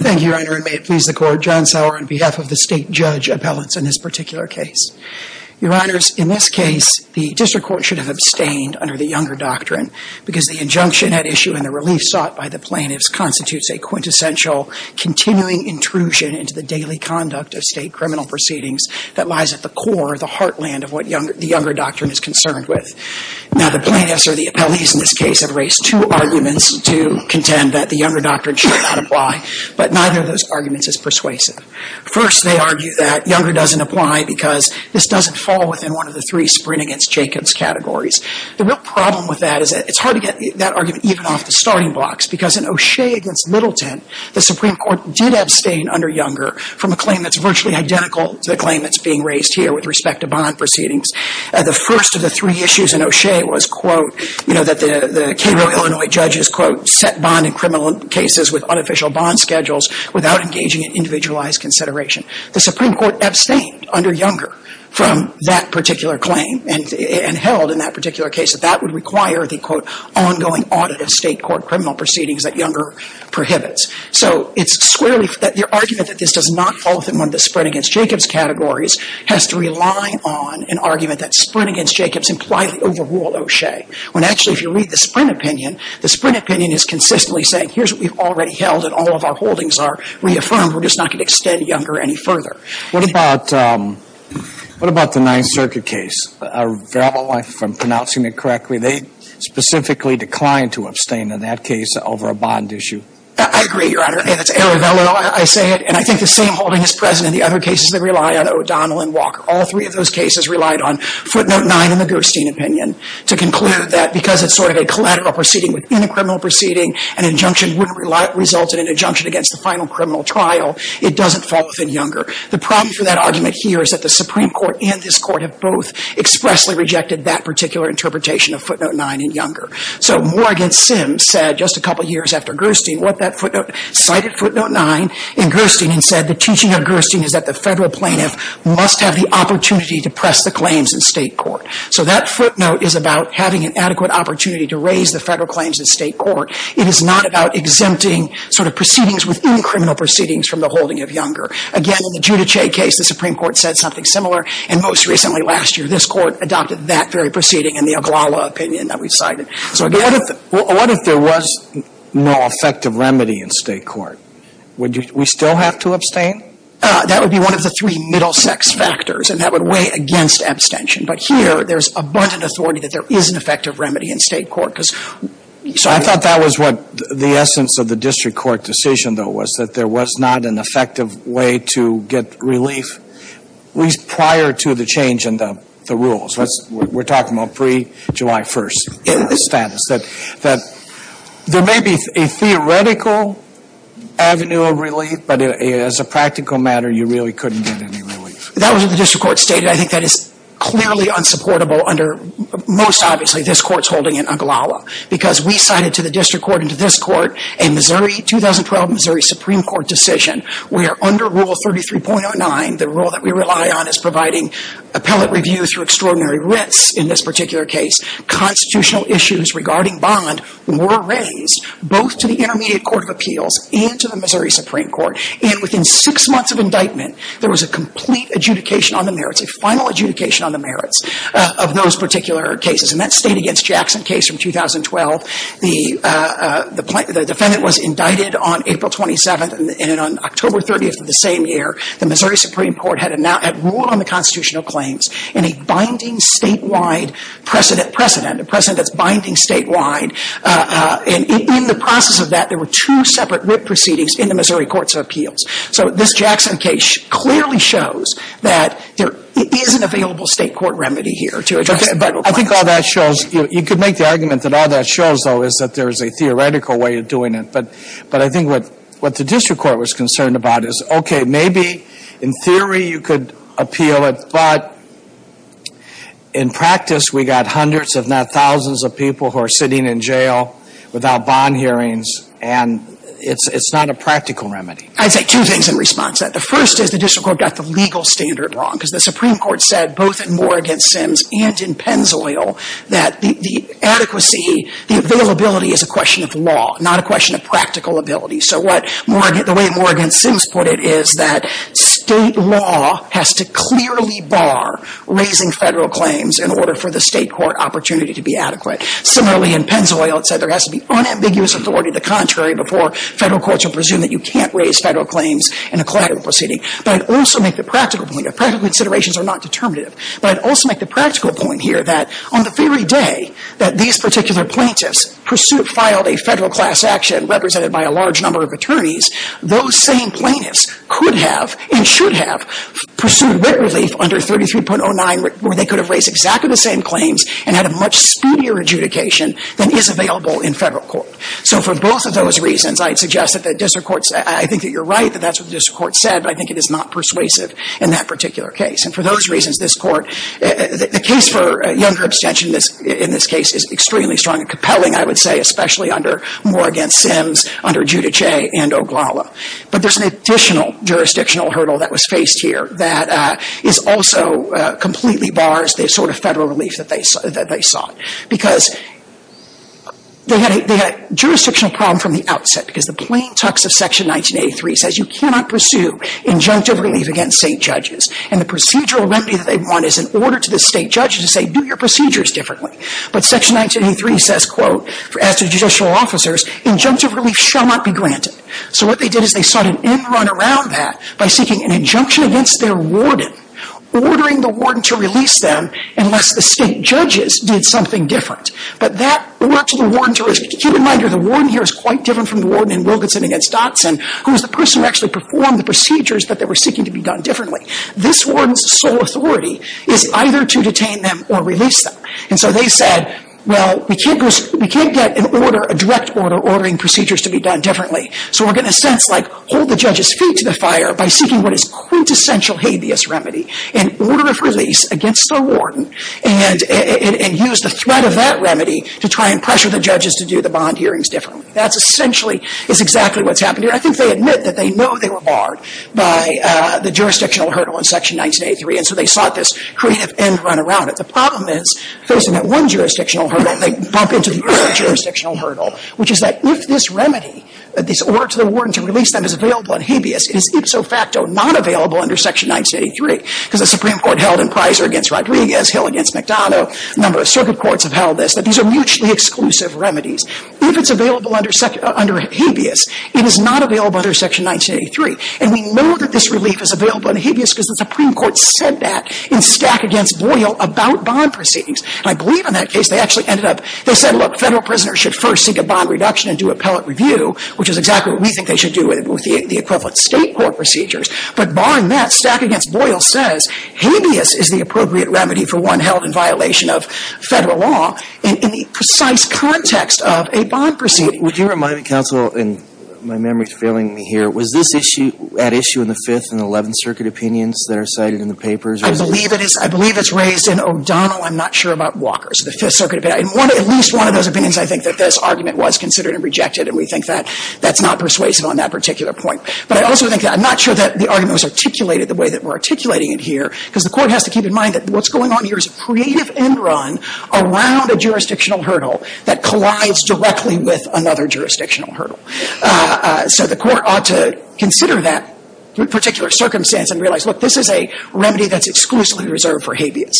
Thank you, Your Honor, and may it please the Court, John Sauer on behalf of the State Judge Appellants in this particular case. Your Honors, in this case, the District Court should have abstained under the Younger Doctrine because the injunction at issue and the relief sought by the plaintiffs constitutes a quintessential continuing intrusion into the daily conduct of state criminal proceedings that lies at the core, the heartland, of what the Younger Doctrine is concerned with. Now, the plaintiffs or the appellees in this case have raised two arguments to contend that the Younger Doctrine should not apply, but neither of those arguments is persuasive. First, they argue that Younger doesn't apply because this doesn't fall within one of the three Sprint Against Jacobs categories. The real problem with that is that it's hard to get that argument even off the starting blocks because in O'Shea v. Middleton, the Supreme Court did abstain under Younger from a claim that's virtually identical to the claim that's being raised here with respect to bond proceedings. The first of the three issues in O'Shea was, quote, you know, that the Cairo, Illinois judges, quote, set bond in criminal cases with unofficial bond schedules without engaging in individualized consideration. The Supreme Court abstained under Younger from that particular claim and held in that particular case that that would require the, quote, ongoing audit of state court criminal proceedings that Younger prohibits. So it's squarely that the argument that this does not fall within one of the Sprint Against Jacobs categories has to rely on an argument that Sprint Against Jacobs impliedly overruled O'Shea, when actually if you read the Sprint opinion, the Sprint opinion is consistently saying, here's what we've already held and all of our holdings are reaffirmed. We're just not going to extend Younger any further. What about, what about the Ninth Circuit case? Are Verrill, if I'm pronouncing it correctly, they specifically declined to abstain in that case over a bond issue? I agree, Your Honor. It's Aravello, I say it, and I think the same holding is present in the other cases that rely on O'Donnell and Walker. All three of those cases relied on footnote nine in the Gerstein opinion to conclude that because it's sort of a collateral proceeding within a criminal proceeding, an injunction wouldn't result in an injunction against the final criminal trial. It doesn't fall within Younger. The problem for that argument here is that the Supreme Court and this Court have both expressly rejected that particular interpretation of footnote nine in Younger. So Moore against Sims said just a couple years after Gerstein what that footnote, cited footnote nine in Gerstein and said the teaching of Gerstein is that the federal plaintiff must have the opportunity to press the claims in state court. So that footnote is about having an adequate opportunity to raise the federal claims in state court. It is not about exempting sort of proceedings within criminal proceedings from the holding of Younger. Again, in the Giudice case, the Supreme Court said something similar and most recently, last year, this Court adopted that very proceeding in the Oglala opinion that we've cited. So again, what if there was no effective remedy in state court? Would we still have to abstain? That would be one of the three middle sex factors and that would weigh against abstention. But here, there's abundant authority that there is an effective remedy in state court because so I thought that was what the essence of the district court decision though was that there was not an effective way to get relief, at least prior to the change in the rules. We're talking about pre-July 1st status. There may be a theoretical avenue of relief, but as a practical matter, you really couldn't get any relief. That was what the district court stated. I think that is clearly unsupportable under most obviously this Court's holding in Oglala because we cited to the district court and to this court a Missouri, 2012 Missouri Supreme Court decision where under rule 33.09, the extraordinary risks in this particular case, constitutional issues regarding bond were raised both to the Intermediate Court of Appeals and to the Missouri Supreme Court and within six months of indictment, there was a complete adjudication on the merits, a final adjudication on the merits of those particular cases and that state against Jackson case from 2012, the defendant was indicted on April 27th and on October 30th of the same year, the Missouri Supreme Court issued a binding statewide precedent, precedent, a precedent that's binding statewide, and in the process of that, there were two separate writ proceedings in the Missouri Courts of Appeals. So this Jackson case clearly shows that there is an available state court remedy here to address the vital points. Okay. I think all that shows, you could make the argument that all that shows, though, is that there is a theoretical way of doing it, but I think what the district court was In practice, we got hundreds, if not thousands, of people who are sitting in jail without bond hearings and it's not a practical remedy. I'd say two things in response to that. The first is the district court got the legal standard wrong because the Supreme Court said both in Moore v. Sims and in Pennzoil that the adequacy, the availability is a question of law, not a question of practical ability. So the way Moore v. Sims put it is that state law has to clearly bar raising federal claims in order for the state court opportunity to be adequate. Similarly, in Pennzoil, it said there has to be unambiguous authority to the contrary before federal courts will presume that you can't raise federal claims in a collateral proceeding. But I'd also make the practical point, practical considerations are not determinative, but I'd also make the practical point here that on the very day that these particular plaintiffs pursued, filed a federal class action represented by a large number of attorneys, those same plaintiffs could have and should have pursued writ relief under 33.09 where they could have raised exactly the same claims and had a much speedier adjudication than is available in federal court. So for both of those reasons, I'd suggest that the district courts, I think that you're right that that's what the district court said, but I think it is not persuasive in that particular case. And for those reasons, this court, the case for younger abstention in this case is extremely strong and compelling, I would say, especially under, more against Sims, under Giudice and Oglala. But there's an additional jurisdictional hurdle that was faced here that is also completely bars the sort of federal relief that they sought. Because they had a jurisdictional problem from the outset because the plain text of Section 1983 says you cannot pursue injunctive relief against state judges. And the procedural remedy that they want is in your procedures differently. But Section 1983 says, quote, as to judicial officers, injunctive relief shall not be granted. So what they did is they sought an end run around that by seeking an injunction against their warden, ordering the warden to release them unless the state judges did something different. But that worked to the warden's risk. Keep in mind the warden here is quite different from the warden in Wilkinson v. Dotson, who was the person who actually performed the procedures, but they were seeking to be done differently. This warden's sole authority is either to detain them or release them. And so they said, well, we can't get an order, a direct order, ordering procedures to be done differently. So we're getting a sense like hold the judge's feet to the fire by seeking what is quintessential habeas remedy, an order of release against the warden, and use the threat of that remedy to try and pressure the judges to do the bond hearings differently. That's essentially is exactly what's happened here. I think they admit that they know they were barred by the jurisdictional hurdle in Section 1983, and so they sought this creative end run around it. The problem is, facing that one jurisdictional hurdle, they bump into the other jurisdictional hurdle, which is that if this remedy, this order to the warden to release them is available in habeas, it is ipso facto not available under Section 1983. Because the Supreme Court held in Pizer v. Rodriguez, Hill v. McDonough, a number of circuit courts have held this, that these are mutually exclusive remedies. If it's available under habeas, it is not available under Section 1983. And we know that this relief is available in habeas because the Supreme Court said that in Stack v. Boyle about bond proceedings. And I believe in that case, they actually ended up, they said, look, Federal prisoners should first seek a bond reduction and do appellate review, which is exactly what we think they should do with the equivalent State court procedures. But barring that, Stack v. Boyle says habeas is the appropriate remedy for one held in a bond proceeding. Would you remind me, counsel, and my memory is failing me here, was this issue at issue in the Fifth and Eleventh Circuit opinions that are cited in the papers? I believe it is. I believe it's raised in O'Donnell. I'm not sure about Walker's, the Fifth Circuit opinion. At least one of those opinions, I think, that this argument was considered and rejected. And we think that that's not persuasive on that particular point. But I also think that I'm not sure that the argument was articulated the way that we're articulating it here, because the Court has to keep in mind that what's going on here is a creative end run around a jurisdictional hurdle that collides just directly with another jurisdictional hurdle. So the Court ought to consider that particular circumstance and realize, look, this is a remedy that's exclusively reserved for habeas.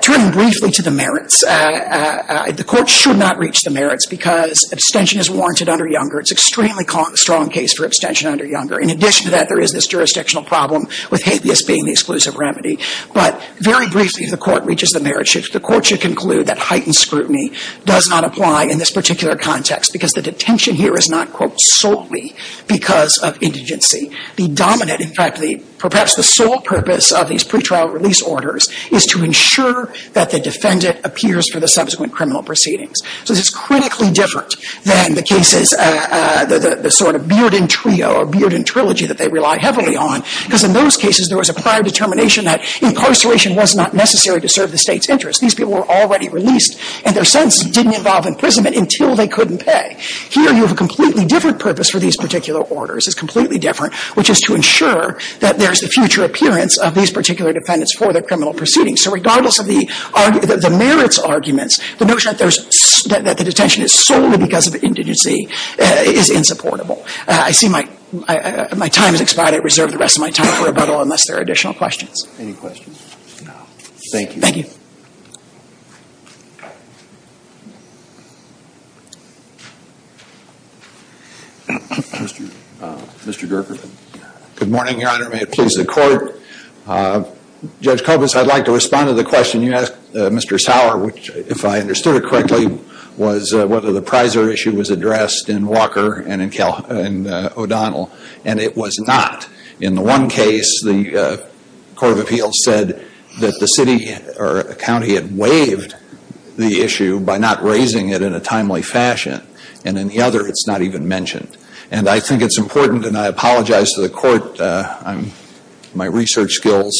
Turning briefly to the merits, the Court should not reach the merits because abstention is warranted under Younger. It's an extremely strong case for abstention under Younger. In addition to that, there is this jurisdictional problem with habeas being the exclusive remedy. But very briefly, if the Court reaches the merits, the Court should conclude that heightened scrutiny does not apply in this particular context, because the detention here is not, quote, solely because of indigency. The dominant, in fact, perhaps the sole purpose of these pretrial release orders is to ensure that the defendant appears for the subsequent criminal proceedings. So this is critically different than the cases, the sort of Bearden Trio or Bearden Trilogy that they rely heavily on, because in those cases, there was a prior determination that incarceration was not necessary to serve the State's interests. These people were already released, and their sentences didn't involve imprisonment until they couldn't pay. Here, you have a completely different purpose for these particular orders. It's completely different, which is to ensure that there's the future appearance of these particular defendants for their criminal proceedings. So regardless of the merits arguments, the notion that the detention is solely because of indigency is insupportable. I see my time has expired. I reserve the rest of my time for rebuttal unless there are additional questions. Any questions? No. Thank you. Thank you. Mr. Gerker. Good morning, Your Honor. May it please the Court. Judge Kovas, I'd like to respond to the question you asked Mr. Sauer, which, if I understood it correctly, was whether the Prisor issue was addressed in Walker and in O'Donnell, and it was not. In the one case, the Court of Appeals said that the city or county had waived the issue by not raising it in a timely fashion, and in the other, it's not even mentioned. And I think it's important, and I apologize to the Court, my research skills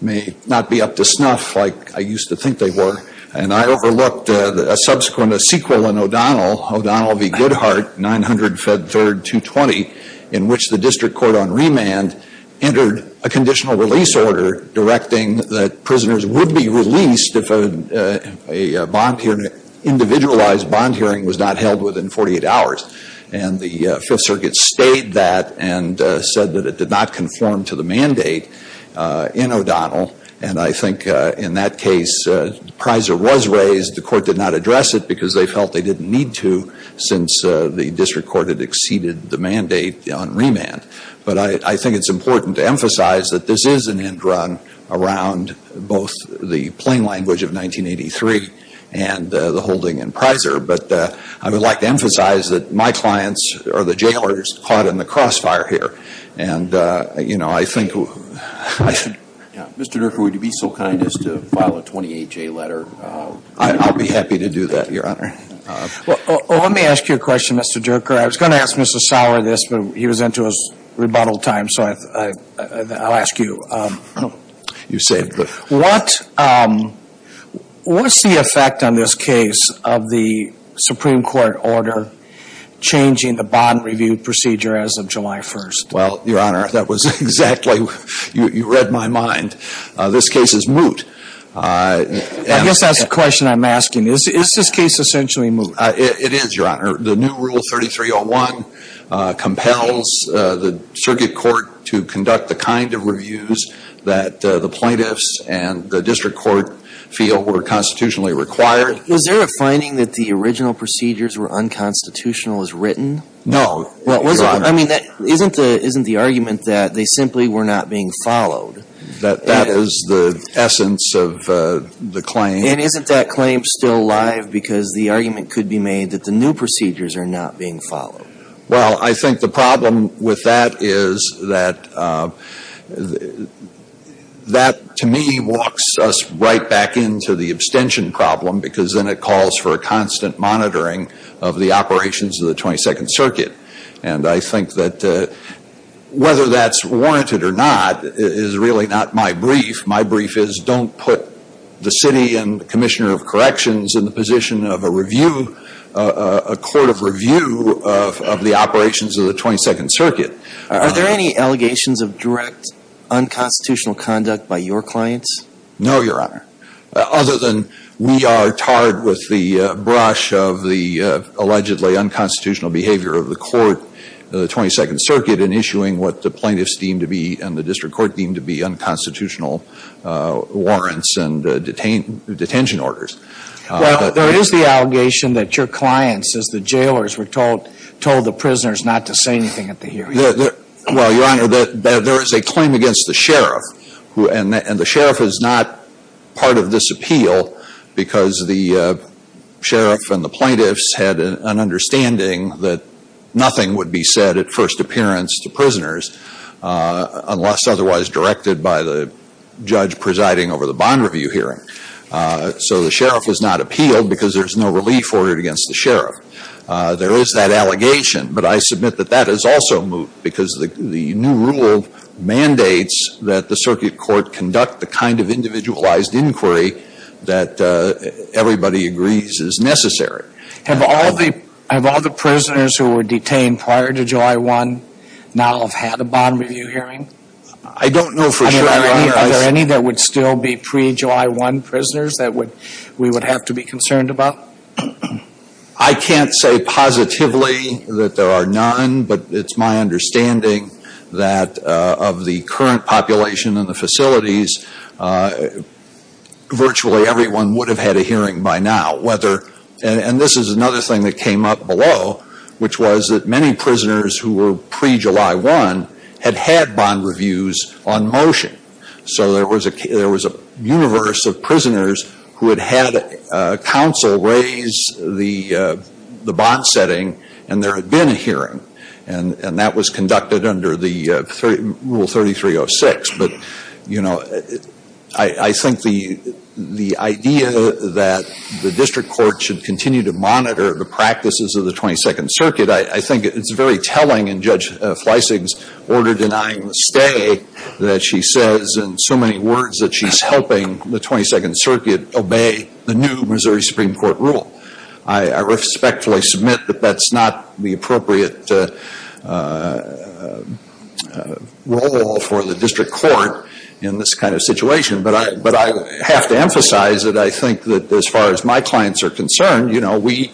may not be up to snuff like I used to think they were, and I overlooked a subsequent sequel in O'Donnell, O'Donnell v. Goodhart, 900 Fed Third 220, in which the district court on remand entered a conditional release order directing that prisoners would be released if a bond hearing an individualized bond hearing was not held within 48 hours. And the Fifth Circuit stayed that and said that it did not conform to the mandate in O'Donnell. And I think in that case, the Prisor was raised, the Court did not address it because they felt they didn't need to since the district court had exceeded the mandate on remand. But I think it's important to emphasize that this is an end run around both the plain language of 1983 and the holding in Prisor. But I would like to emphasize that my clients, or the jailers, caught in the crossfire here. And, you know, I think I should, Mr. Durker, would you be so kind as to file a 28-J letter? I'll be happy to do that, Your Honor. Well, let me ask you a question, Mr. Durker. I was going to ask Mr. Sauer this, but he was into his rebuttal time, so I'll ask you. You saved it. What's the effect on this case of the Supreme Court order changing the bond review procedure as of July 1st? Well, Your Honor, that was exactly, you read my mind. This case is moot. I guess that's the question I'm asking. Is this case essentially moot? It is, Your Honor. The new Rule 3301 compels the circuit court to conduct the kind of reviews that the plaintiffs and the district court feel were constitutionally required. Was there a finding that the original procedures were unconstitutional as written? No. I mean, isn't the argument that they simply were not being followed? That that is the essence of the claim. And isn't that claim still alive because the argument could be made that the new procedures are not being followed? Well, I think the problem with that is that that, to me, walks us right back into the abstention problem because then it calls for a constant monitoring of the operations of the 22nd Circuit. And I think that whether that's warranted or not is really not my brief. My brief is don't put the city and the Commissioner of Corrections in the position of a review, a court of review of the operations of the 22nd Circuit. Are there any allegations of direct unconstitutional conduct by your clients? No, Your Honor. Other than we are tarred with the brush of the allegedly unconstitutional behavior of the court, the 22nd Circuit, in issuing what the plaintiffs deem to be and the district court deem to be unconstitutional warrants and detention orders. Well, there is the allegation that your clients, as the jailers, were told the prisoners not to say anything at the hearing. Well, Your Honor, there is a claim against the sheriff. And the sheriff is not part of this appeal because the sheriff and the plaintiffs had an understanding that nothing would be said at first appearance to prisoners unless otherwise directed by the judge presiding over the bond review hearing. So the sheriff is not appealed because there's no relief ordered against the sheriff. There is that allegation. But I submit that that is also moot because the new rule mandates that the circuit court conduct the kind of individualized inquiry that everybody agrees is necessary. Have all the prisoners who were detained prior to July 1 now have had a bond review hearing? I don't know for sure, Your Honor. Are there any that would still be pre-July 1 prisoners that we would have to be concerned about? I can't say positively that there are none, but it's my understanding that of the current population in the facilities, virtually everyone would have had a hearing by now. And this is another thing that came up below, which was that many prisoners who were pre-July 1 had had bond reviews on motion. So there was a universe of prisoners who had had counsel raise the bond setting, and there had been a hearing. And that was conducted under Rule 3306. But I think the idea that the district court should continue to monitor the practices of the 22nd Circuit, I think it's very telling in Judge Fleissig's order denying the stay that she says in so many words that she's helping the 22nd Circuit obey the new Missouri Supreme Court rule. I respectfully submit that that's not the appropriate role for the district court in this kind of situation. But I have to emphasize that I think that as far as my clients are concerned, you know, we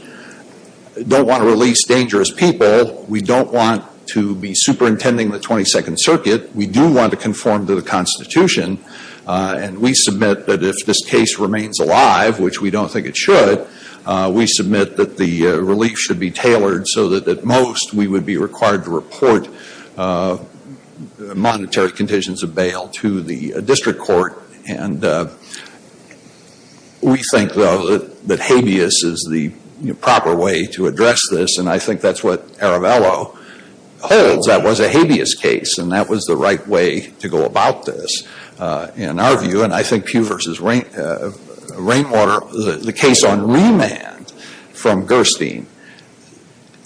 don't want to release dangerous people. We don't want to be superintending the 22nd Circuit. We do want to conform to the Constitution. And we submit that if this case remains alive, which we don't think it should, we submit that the relief should be tailored so that at most we would be required to report monetary conditions of bail to the district court. And we think, though, that habeas is the proper way to address this. And I think that's what Aravello holds, that was a habeas case, and that was the right way to go about this in our view. And I think Pugh v. Rainwater, the case on remand from Gerstein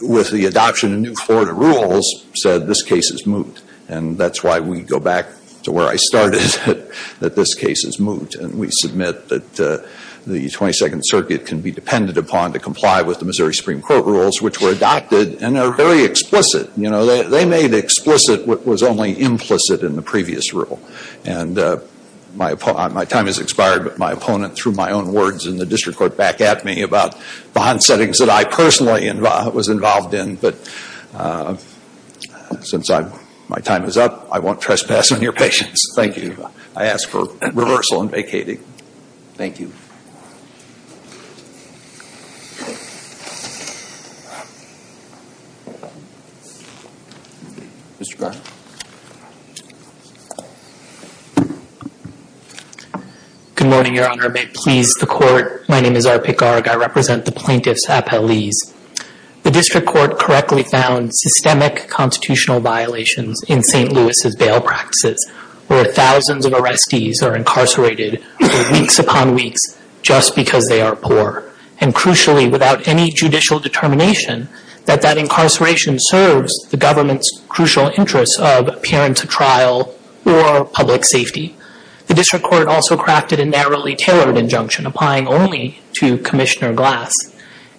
with the adoption of new Florida rules said this case is moot. And that's why we go back to where I started, that this case is moot. And we submit that the 22nd Circuit can be depended upon to comply with the Missouri Supreme Court rules, which were adopted and are very explicit. They made explicit what was only implicit in the previous rule. And my time has expired, but my opponent threw my own words in the district court back at me about bond settings that I personally was involved in. But since my time is up, I won't trespass on your patience. Thank you. I ask for reversal and vacating. Thank you. Mr. Garg. Good morning, Your Honor. May it please the Court. My name is R.P. Garg. I represent the plaintiff's appellees. The district court correctly found systemic constitutional violations in St. Louis' bail practices, where thousands of arrestees are incarcerated for weeks upon weeks just because they are poor. And crucially, without any judicial determination, that that incarceration serves the government's crucial interests of appearance at trial or public safety. The district court also crafted a narrowly tailored injunction applying only to Commissioner Glass.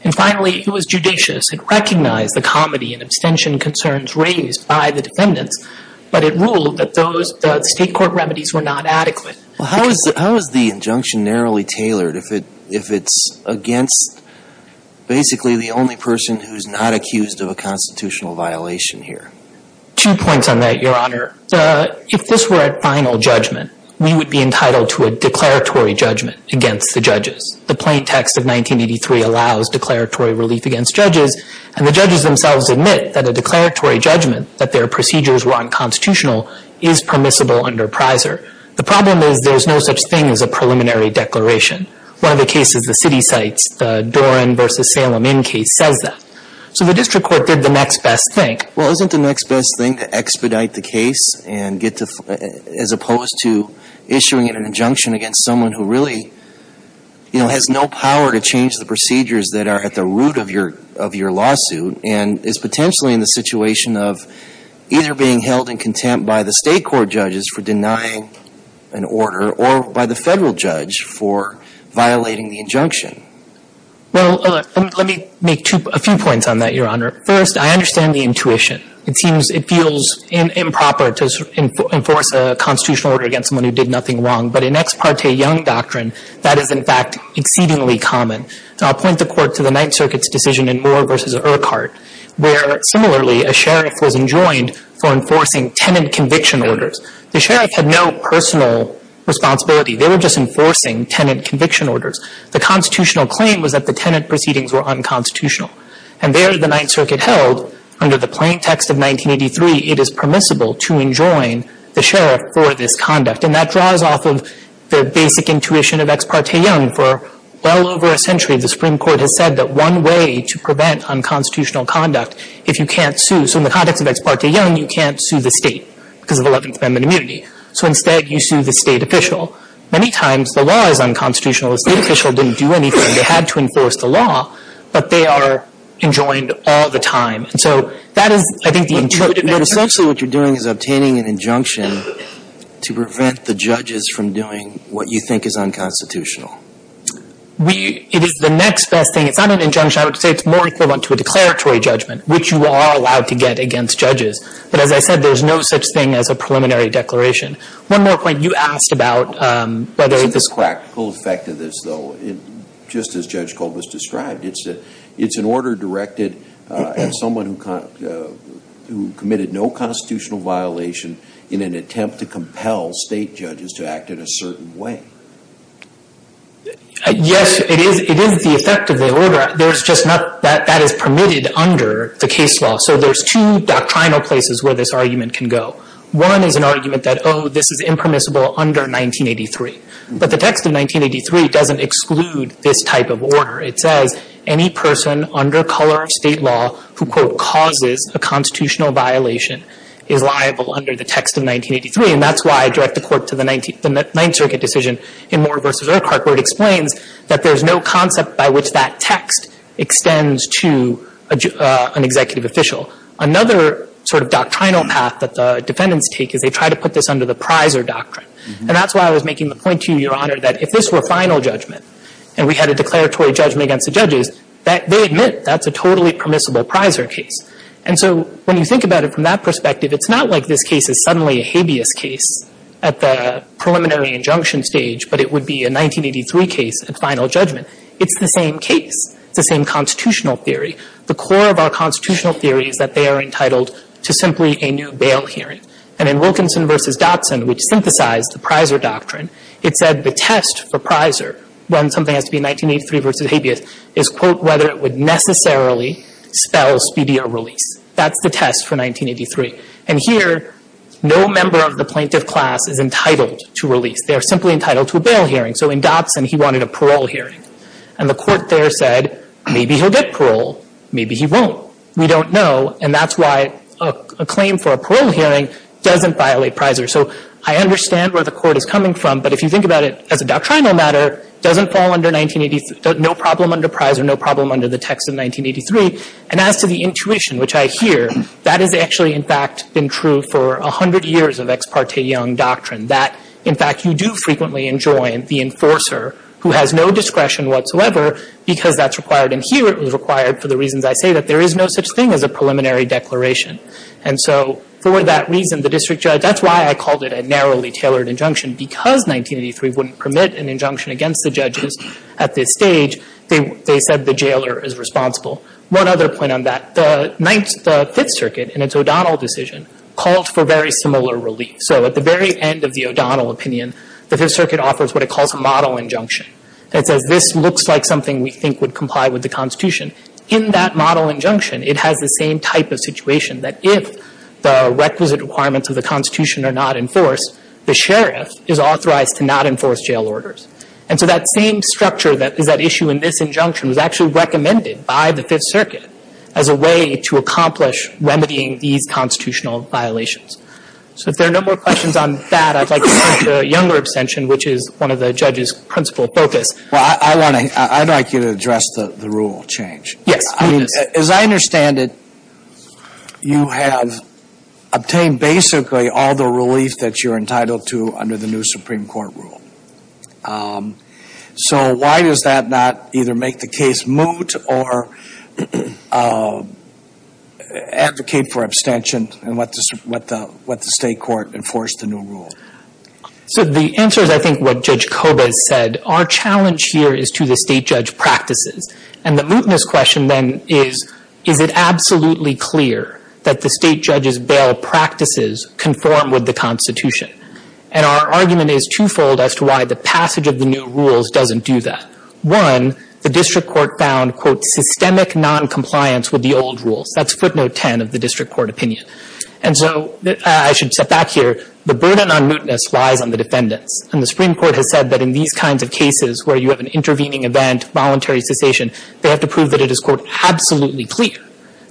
And finally, it was judicious. It recognized the comedy and abstention concerns raised by the defendants. But it ruled that those state court remedies were not adequate. How is the injunction narrowly tailored if it's against basically the only person who's not accused of a constitutional violation here? Two points on that, Your Honor. If this were a final judgment, we would be entitled to a declaratory judgment against the judges. The plain text of 1983 allows declaratory relief against judges. And the judges themselves admit that a declaratory judgment, that their procedures were unconstitutional, is permissible under PRISER. The problem is there's no such thing as a preliminary declaration. One of the cases the city cites, the Doran v. Salem Inn case, says that. So the district court did the next best thing. Well, isn't the next best thing to expedite the case and get to, as opposed to issuing an injunction against someone who really, you know, has no power to change the procedures that are at the root of your lawsuit and is potentially in the situation of either being held in contempt by the state court judges for denying an order or by the federal judge for violating the injunction? Well, let me make a few points on that, Your Honor. First, I understand the intuition. It feels improper to enforce a constitutional order against someone who did nothing wrong. But in ex parte Young doctrine, that is, in fact, exceedingly common. And I'll point the court to the Ninth Circuit's decision in Moore v. Urquhart, where, similarly, a sheriff was enjoined for enforcing tenant conviction orders. The sheriff had no personal responsibility. They were just enforcing tenant conviction orders. The constitutional claim was that the tenant proceedings were unconstitutional. And there, the Ninth Circuit held, under the plain text of 1983, it is permissible to enjoin the sheriff for this conduct. And that draws off of the basic intuition of ex parte Young. For well over a century, the Supreme Court has said that one way to prevent unconstitutional conduct, if you can't sue, so in the context of ex parte Young, you can't sue the state because of 11th Amendment immunity. So instead, you sue the state official. Many times, the law is unconstitutional. The state official didn't do anything. They had to enforce the law. But they are enjoined all the time. And so that is, I think, the intuitive answer. Essentially, what you're doing is obtaining an injunction to prevent the judges from doing what you think is unconstitutional. It is the next best thing. It's not an injunction. I would say it's more equivalent to a declaratory judgment, which you are allowed to get against judges. But as I said, there's no such thing as a preliminary declaration. One more point. You asked about whether this It's a practical effect of this, though. Just as Judge Kolb has described, it's an order directed at someone who committed no constitutional violation in an attempt to compel state judges to act in a certain way. Yes, it is the effect of the order. That is permitted under the case law. So there's two doctrinal places where this argument can go. One is an argument that, oh, this is impermissible under 1983. But the text of 1983 doesn't exclude this type of order. It says any person under color of state law who, quote, causes a constitutional violation is liable under the text of 1983. And that's why I direct the Court to the Ninth Circuit decision in Moore v. Urquhart, where it explains that there's no concept by which that text extends to an executive official. Another sort of doctrinal path that the defendants take is they try to put this under the prizer doctrine. And that's why I was making the point to you, Your Honor, that if this were final judgment and we had a declaratory judgment against the judges, that they admit that's a totally permissible prizer case. And so when you think about it from that perspective, it's not like this case is suddenly a habeas case at the preliminary injunction stage, but it would be a 1983 case at final judgment. It's the same case. It's the same constitutional theory. The core of our constitutional theory is that they are entitled to simply a new bail hearing. And in Wilkinson v. Dotson, which synthesized the prizer doctrine, it said the test for when something has to be 1983 v. habeas is, quote, whether it would necessarily spell speedier release. That's the test for 1983. And here, no member of the plaintiff class is entitled to release. They are simply entitled to a bail hearing. So in Dotson, he wanted a parole hearing. And the Court there said, maybe he'll get parole, maybe he won't. We don't know. And that's why a claim for a parole hearing doesn't violate prizer. So I understand where the Court is coming from, but if you think about it as a doctrinal matter, it doesn't fall under 1983. No problem under prizer. No problem under the text of 1983. And as to the intuition, which I hear, that has actually, in fact, been true for a hundred years of Ex parte Young doctrine, that, in fact, you do frequently enjoin the enforcer who has no discretion whatsoever because that's required. And here, it was required for the reasons I say, that there is no such thing as a preliminary declaration. And so for that reason, the district judge – that's why I called it a narrowly at this stage, they said the jailer is responsible. One other point on that, the Fifth Circuit, in its O'Donnell decision, called for very similar relief. So at the very end of the O'Donnell opinion, the Fifth Circuit offers what it calls a model injunction. It says, this looks like something we think would comply with the Constitution. In that model injunction, it has the same type of situation, that if the requisite requirements of the Constitution are not enforced, the sheriff is authorized to not enforce jail orders. And so that same structure that is at issue in this injunction was actually recommended by the Fifth Circuit as a way to accomplish remedying these constitutional violations. So if there are no more questions on that, I'd like to turn to Younger abstention, which is one of the judges' principal focus. Well, I want to – I'd like you to address the rule change. Yes. I mean, as I understand it, you have obtained basically all the relief that you're asking for. So why does that not either make the case moot or advocate for abstention and let the State Court enforce the new rule? So the answer is, I think, what Judge Kobes said. Our challenge here is to the state judge practices. And the mootness question then is, is it absolutely clear that the state judge's bail practices conform with the Constitution? And our argument is twofold as to why the passage of the new rules doesn't do that. One, the district court found, quote, systemic noncompliance with the old rules. That's footnote 10 of the district court opinion. And so I should step back here. The burden on mootness lies on the defendants. And the Supreme Court has said that in these kinds of cases where you have an intervening event, voluntary cessation, they have to prove that it is, quote, absolutely clear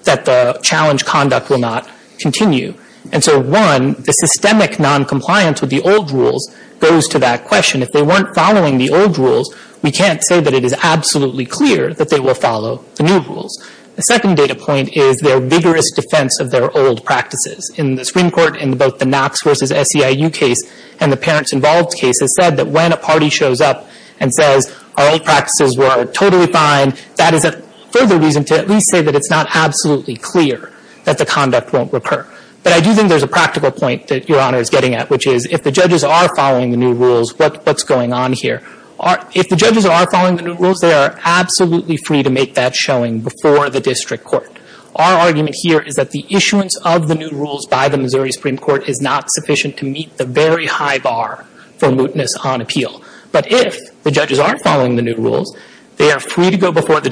that the challenge conduct will not continue. And so, one, the systemic noncompliance with the old rules goes to that question. If they weren't following the old rules, we can't say that it is absolutely clear that they will follow the new rules. The second data point is their vigorous defense of their old practices. In the Supreme Court, in both the Knox versus SEIU case and the parents involved case, it said that when a party shows up and says, our old practices were totally fine, that is a further reason to at least say that it's not absolutely clear that the conduct won't recur. But I do think there's a practical point that Your Honor is getting at, which is, if the judges are following the new rules, what's going on here? If the judges are following the new rules, they are absolutely free to make that showing before the district court. Our argument here is that the issuance of the new rules by the Missouri Supreme Court is not sufficient to meet the very high bar for mootness on appeal. But if the judges aren't following the new rules, they are free to go before the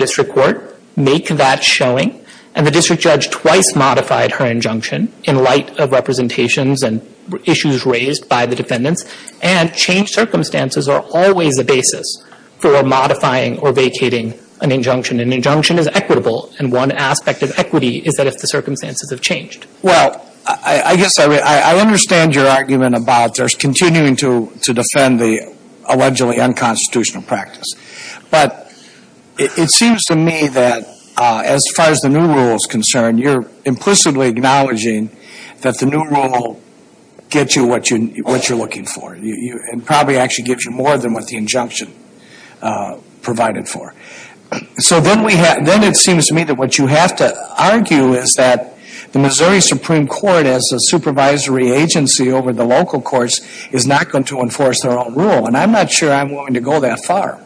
in light of representations and issues raised by the defendants. And changed circumstances are always the basis for modifying or vacating an injunction. An injunction is equitable, and one aspect of equity is that if the circumstances have changed. Well, I guess I understand your argument about continuing to defend the allegedly unconstitutional practice. But it seems to me that as far as the new rule is concerned, you're implicitly acknowledging that the new rule will get you what you're looking for. It probably actually gives you more than what the injunction provided for. So then it seems to me that what you have to argue is that the Missouri Supreme Court, as a supervisory agency over the local courts, is not going to enforce their own rule. And I'm not sure I'm willing to go that far.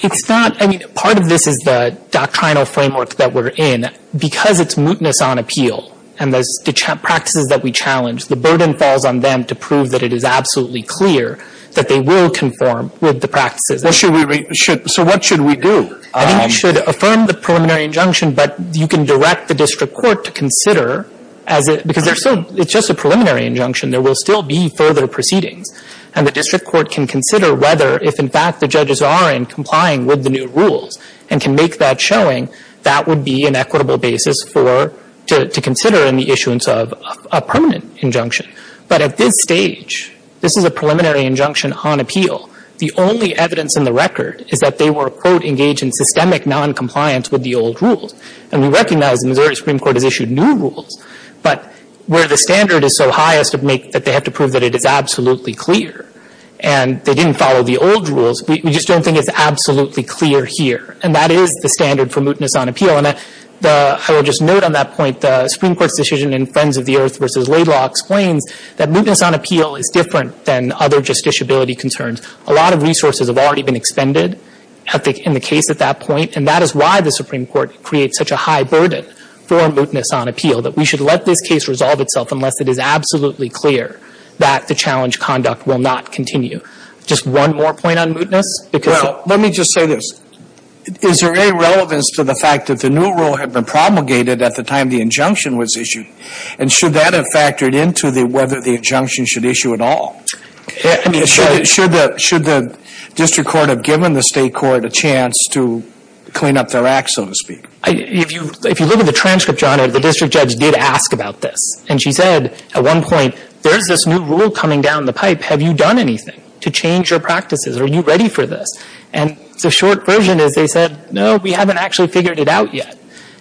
It's not. I mean, part of this is the doctrinal framework that we're in. Because it's mootness on appeal and the practices that we challenge, the burden falls on them to prove that it is absolutely clear that they will conform with the practices. So what should we do? I think you should affirm the preliminary injunction, but you can direct the district court to consider, because it's just a preliminary injunction. There will still be further proceedings. And the district court can consider whether, if in fact the judges are in complying with the new rules and can make that showing, that would be an equitable basis for to consider in the issuance of a permanent injunction. But at this stage, this is a preliminary injunction on appeal. The only evidence in the record is that they were, quote, engaged in systemic noncompliance with the old rules. And we recognize the Missouri Supreme Court has issued new rules, but where the didn't follow the old rules, we just don't think it's absolutely clear here. And that is the standard for mootness on appeal. And I will just note on that point, the Supreme Court's decision in Friends of the Earth v. Laidlaw explains that mootness on appeal is different than other justiciability concerns. A lot of resources have already been expended in the case at that point, and that is why the Supreme Court creates such a high burden for mootness on appeal, that we should let this case resolve itself unless it is absolutely clear that the challenge conduct will not continue. Just one more point on mootness. Well, let me just say this. Is there any relevance to the fact that the new rule had been promulgated at the time the injunction was issued? And should that have factored into whether the injunction should issue at all? Should the district court have given the state court a chance to clean up their acts, so to speak? If you look at the transcript, John, the district judge did ask about this. And she said at one point, there's this new rule coming down the pipe. Have you done anything to change your practices? Are you ready for this? And the short version is they said, no, we haven't actually figured it out yet.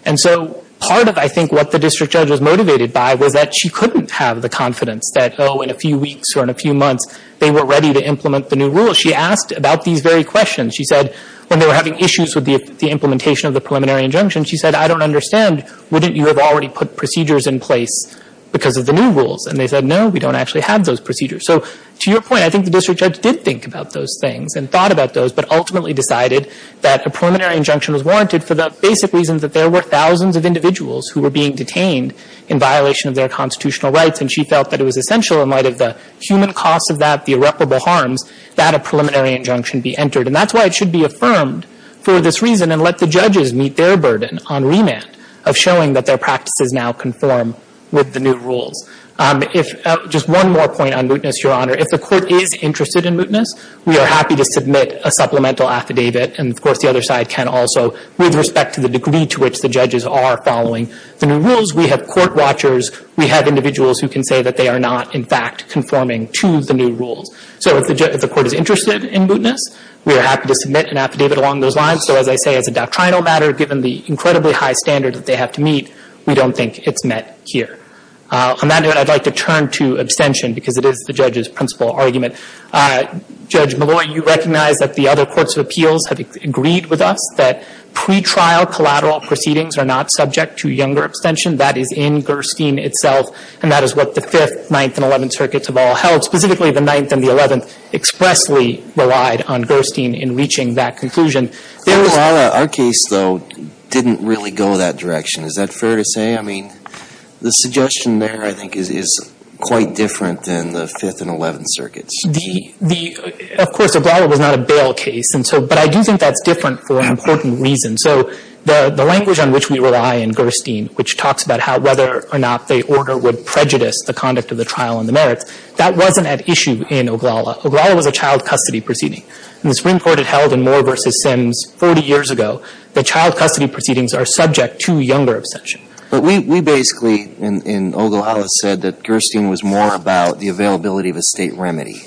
And so part of, I think, what the district judge was motivated by was that she couldn't have the confidence that, oh, in a few weeks or in a few months, they were ready to implement the new rule. She asked about these very questions. She said when they were having issues with the implementation of the preliminary injunction, she said, I don't understand. Wouldn't you have already put procedures in place because of the new rules? And they said, no, we don't actually have those procedures. So to your point, I think the district judge did think about those things and thought about those, but ultimately decided that a preliminary injunction was warranted for the basic reason that there were thousands of individuals who were being detained in violation of their constitutional rights. And she felt that it was essential in light of the human cost of that, the irreparable harms, that a preliminary injunction be entered. And that's why it should be affirmed for this reason and let the judges meet their agreement of showing that their practices now conform with the new rules. Just one more point on mootness, Your Honor. If the court is interested in mootness, we are happy to submit a supplemental affidavit. And, of course, the other side can also, with respect to the degree to which the judges are following the new rules, we have court watchers, we have individuals who can say that they are not, in fact, conforming to the new rules. So if the court is interested in mootness, we are happy to submit an affidavit along those lines. Also, as I say, as a doctrinal matter, given the incredibly high standard that they have to meet, we don't think it's met here. On that note, I'd like to turn to abstention because it is the judge's principal argument. Judge Malloy, you recognize that the other courts of appeals have agreed with us that pretrial collateral proceedings are not subject to younger abstention. That is in Gerstein itself, and that is what the Fifth, Ninth, and Eleventh circuits have all held. Specifically, the Ninth and the Eleventh expressly relied on Gerstein in reaching that conclusion. Our case, though, didn't really go that direction. Is that fair to say? I mean, the suggestion there, I think, is quite different than the Fifth and Eleventh circuits. Of course, Oglala was not a bail case, but I do think that's different for an important reason. So the language on which we rely in Gerstein, which talks about whether or not the order would prejudice the conduct of the trial and the merits, that wasn't at issue in Oglala. Oglala was a child custody proceeding. And the Supreme Court had held in Moore v. Sims 40 years ago that child custody proceedings are subject to younger abstention. But we basically, in Oglala, said that Gerstein was more about the availability of a State remedy.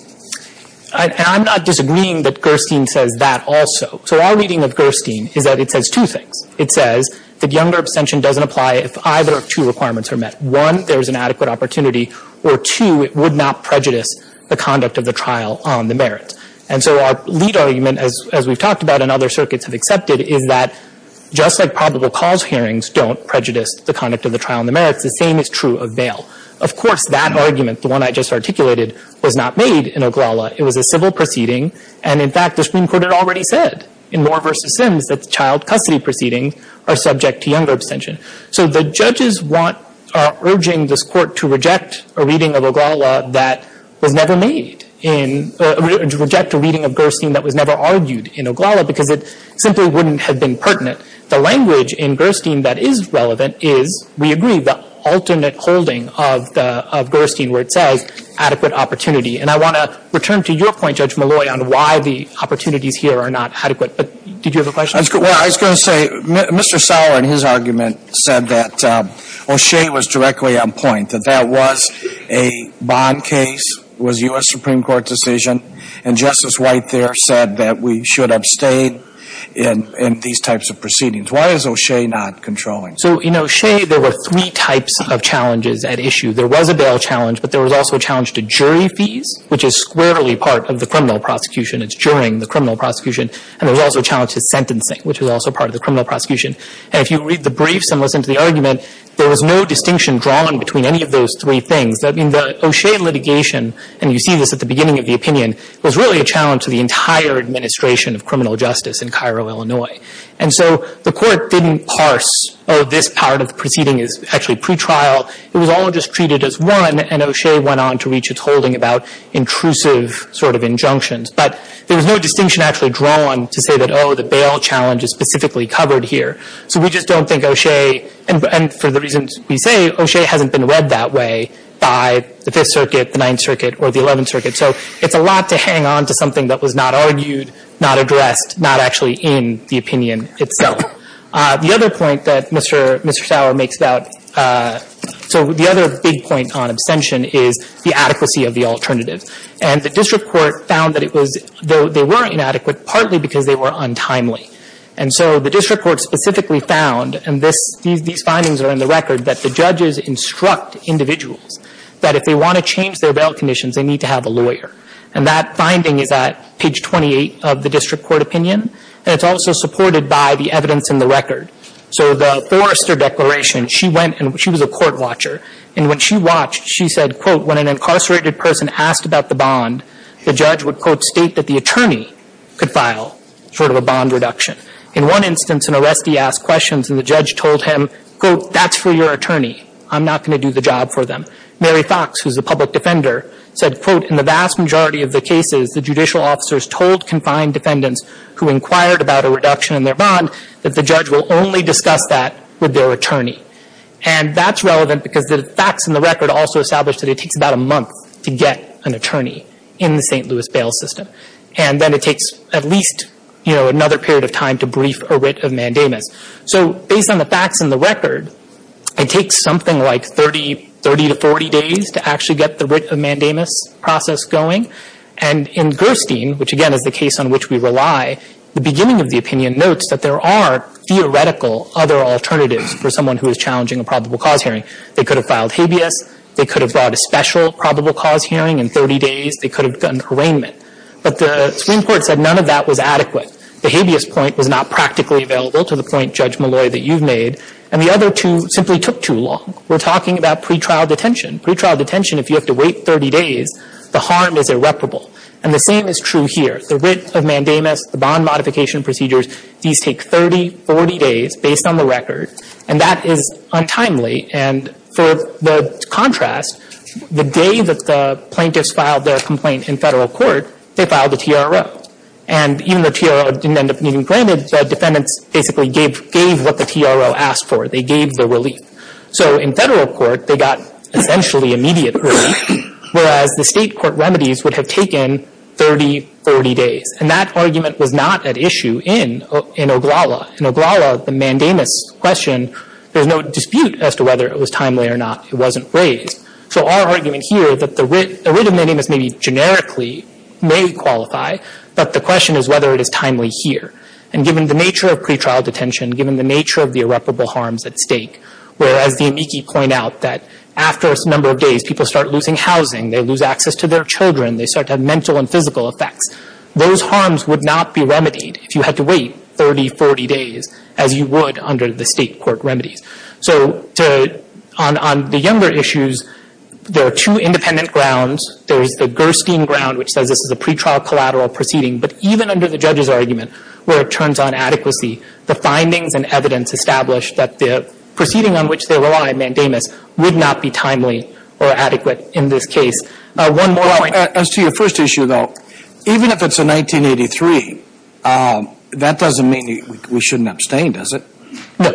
And I'm not disagreeing that Gerstein says that also. So our reading of Gerstein is that it says two things. It says that younger abstention doesn't apply if either of two requirements are met. One, there is an adequate opportunity, or two, it would not prejudice the conduct of the trial on the merits. And so our lead argument, as we've talked about and other circuits have accepted, is that just like probable cause hearings don't prejudice the conduct of the trial and the merits, the same is true of bail. Of course, that argument, the one I just articulated, was not made in Oglala. It was a civil proceeding. And in fact, the Supreme Court had already said in Moore v. Sims that the child custody proceedings are subject to younger abstention. So the judges want, are urging this Court to reject a reading of Oglala that was never argued in Oglala because it simply wouldn't have been pertinent. The language in Gerstein that is relevant is, we agree, the alternate holding of Gerstein where it says adequate opportunity. And I want to return to your point, Judge Malloy, on why the opportunities here are not adequate. But did you have a question? Well, I was going to say, Mr. Sauer in his argument said that O'Shea was directly on point, that that was a bond case, was a U.S. Supreme Court decision. And Justice White there said that we should abstain in these types of proceedings. Why is O'Shea not controlling? So in O'Shea, there were three types of challenges at issue. There was a bail challenge, but there was also a challenge to jury fees, which is squarely part of the criminal prosecution. It's juroring the criminal prosecution. And there was also a challenge to sentencing, which was also part of the criminal prosecution. And if you read the briefs and listen to the argument, there was no distinction drawn between any of those three things. I mean, the O'Shea litigation, and you see this at the beginning of the opinion, was really a challenge to the entire administration of criminal justice in Cairo, Illinois. And so the Court didn't parse, oh, this part of the proceeding is actually pretrial. It was all just treated as one, and O'Shea went on to reach its holding about intrusive sort of injunctions. But there was no distinction actually drawn to say that, oh, the bail challenge is specifically covered here. So we just don't think O'Shea, and for the reasons we say, O'Shea hasn't been read that way by the Fifth Circuit, the Ninth Circuit, or the Eleventh Circuit. So it's a lot to hang on to something that was not argued, not addressed, not actually in the opinion itself. The other point that Mr. Sauer makes about – so the other big point on abstention is the adequacy of the alternatives. And the district court found that it was – they weren't inadequate partly because they were untimely. And so the district court specifically found, and these findings are in the record, that the judges instruct individuals that if they want to change their bail conditions, they need to have a lawyer. And that finding is at page 28 of the district court opinion, and it's also supported by the evidence in the record. So the Forrester Declaration, she went – she was a court watcher, and when she watched, she said, quote, when an incarcerated person asked about the bond, the judge would, quote, state that the attorney could file sort of a bond reduction. In one instance, an arrestee asked questions, and the judge told him, quote, that's for your attorney. I'm not going to do the job for them. Mary Fox, who's a public defender, said, quote, in the vast majority of the cases, the judicial officers told confined defendants who inquired about a reduction in their bond that the judge will only discuss that with their attorney. And that's relevant because the facts in the record also establish that it takes about a month to get an attorney in the St. Louis bail system. And then it takes at least, you know, another period of time to brief a writ of mandamus. So based on the facts in the record, it takes something like 30 to 40 days to actually get the writ of mandamus process going. And in Gerstein, which, again, is the case on which we rely, the beginning of the opinion notes that there are theoretical other alternatives for someone who is challenging a probable cause hearing. They could have filed habeas. They could have brought a special probable cause hearing in 30 days. They could have gotten harraignment. But the Supreme Court said none of that was adequate. The habeas point was not practically available to the point, Judge Malloy, that you've made. And the other two simply took too long. We're talking about pretrial detention. Pretrial detention, if you have to wait 30 days, the harm is irreparable. And the same is true here. The writ of mandamus, the bond modification procedures, these take 30, 40 days based on the record. And that is untimely. And for the contrast, the day that the plaintiffs filed their complaint in federal court, they filed the TRO. And even though TRO didn't end up being granted, defendants basically gave what the TRO asked for. They gave the relief. So in federal court, they got essentially immediate relief, whereas the state court remedies would have taken 30, 40 days. And that argument was not at issue in Oglala. In Oglala, the mandamus question, there's no dispute as to whether it was timely or not. It wasn't raised. So our argument here is that the writ of mandamus maybe generically may qualify, but the question is whether it is timely here. And given the nature of pretrial detention, given the nature of the irreparable harms at stake, whereas the amici point out that after a number of days, people start losing housing. They lose access to their children. They start to have mental and physical effects. Those harms would not be remedied if you had to wait 30, 40 days as you would under the state court remedies. So on the younger issues, there are two independent grounds. There is the Gerstein ground, which says this is a pretrial collateral proceeding. But even under the judge's argument, where it turns on adequacy, the findings and evidence established that the proceeding on which they rely, mandamus, would not be timely or adequate in this case. One more point. As to your first issue, though, even if it's a 1983, that doesn't mean we shouldn't abstain, does it? No.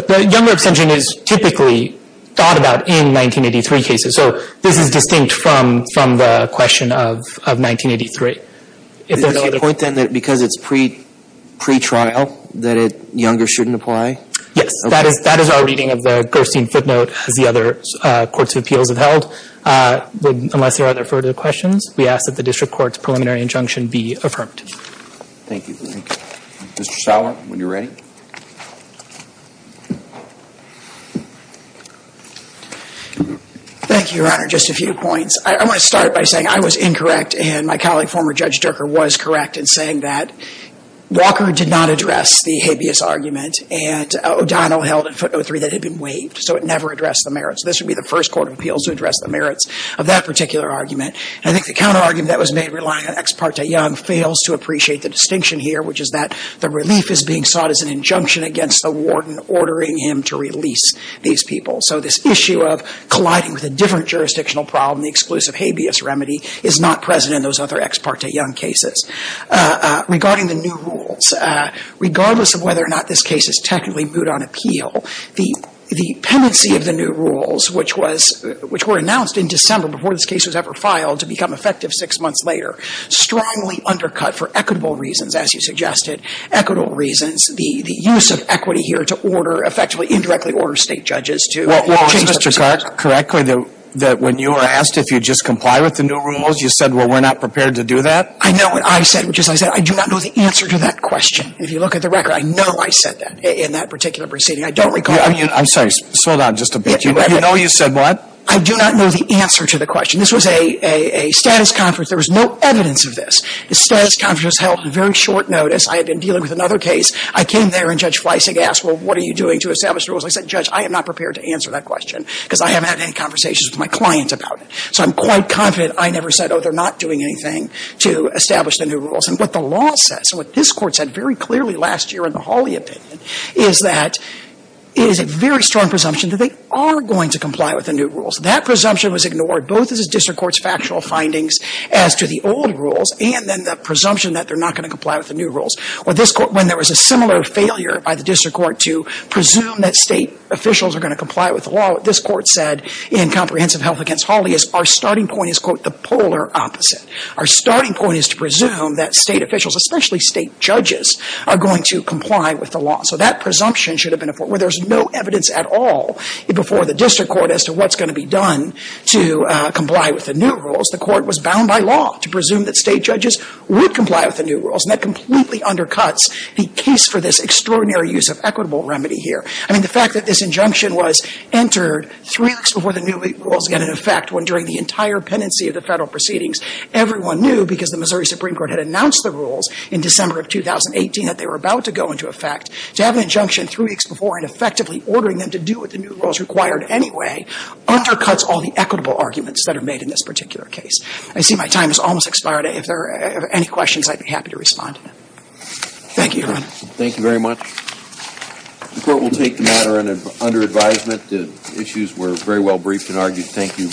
The younger abstention is typically thought about in 1983 cases. So this is distinct from the question of 1983. Is this your point, then, that because it's pretrial that younger shouldn't apply? Yes. That is our reading of the Gerstein footnote, as the other courts of appeals have held. Unless there are further questions, we ask that the district court's preliminary injunction be affirmed. Thank you. Mr. Sauer, when you're ready. Thank you, Your Honor. Just a few points. I want to start by saying I was incorrect, and my colleague, former Judge Durker, was correct in saying that Walker did not address the habeas argument. And O'Donnell held a footnote 3 that had been waived. So it never addressed the merits. This would be the first court of appeals to address the merits of that particular argument. I think the counterargument that was made relying on Ex parte Young fails to appreciate the distinction here, which is that the relief is being sought as an injunction against the warden ordering him to release these people. So this issue of colliding with a different jurisdictional problem, the exclusive habeas remedy, is not present in those other Ex parte Young cases. Regarding the new rules, regardless of whether or not this case is technically moot on appeal, the pendency of the new rules, which were announced in December before this case was ever filed to become effective six months later, strongly undercut for equitable reasons, as you suggested. Equitable reasons, the use of equity here to order, effectively indirectly order State judges to change their perspective. Well, was Mr. Clark correctly that when you were asked if you'd just comply with the new rules, you said, well, we're not prepared to do that? I know what I said, which is I said I do not know the answer to that question. If you look at the record, I know I said that in that particular proceeding. I don't recall. I'm sorry. Slow down just a bit. You know you said what? I do not know the answer to the question. This was a status conference. There was no evidence of this. The status conference was held on very short notice. I had been dealing with another case. I came there, and Judge Fleissig asked, well, what are you doing to establish the rules? I said, Judge, I am not prepared to answer that question because I haven't had any conversations with my clients about it. So I'm quite confident I never said, oh, they're not doing anything to establish the new rules. And what the law says, and what this Court said very clearly last year in the Hawley opinion, is that it is a very strong presumption that they are going to comply with the new rules. That presumption was ignored, both as a district court's factual findings as to the old rules and then the presumption that they're not going to comply with the new rules. When there was a similar failure by the district court to presume that state officials are going to comply with the law, what this Court said in Comprehensive Health against Hawley is our starting point is, quote, the polar opposite. Our starting point is to presume that state officials, especially state judges, are going to comply with the law. So that presumption should have been, where there's no evidence at all before the district court as to what's going to be done to comply with the new rules, the would comply with the new rules. And that completely undercuts the case for this extraordinary use of equitable remedy here. I mean, the fact that this injunction was entered three weeks before the new rules got into effect, when during the entire pendency of the Federal proceedings everyone knew, because the Missouri Supreme Court had announced the rules in December of 2018 that they were about to go into effect, to have an injunction three weeks before and effectively ordering them to do what the new rules required anyway undercuts all the equitable arguments that are made in this particular case. I see my time has almost expired. If there are any questions, I'd be happy to respond. Thank you, Your Honor. Thank you very much. The Court will take the matter under advisement. The issues were very well briefed and argued. Thank you.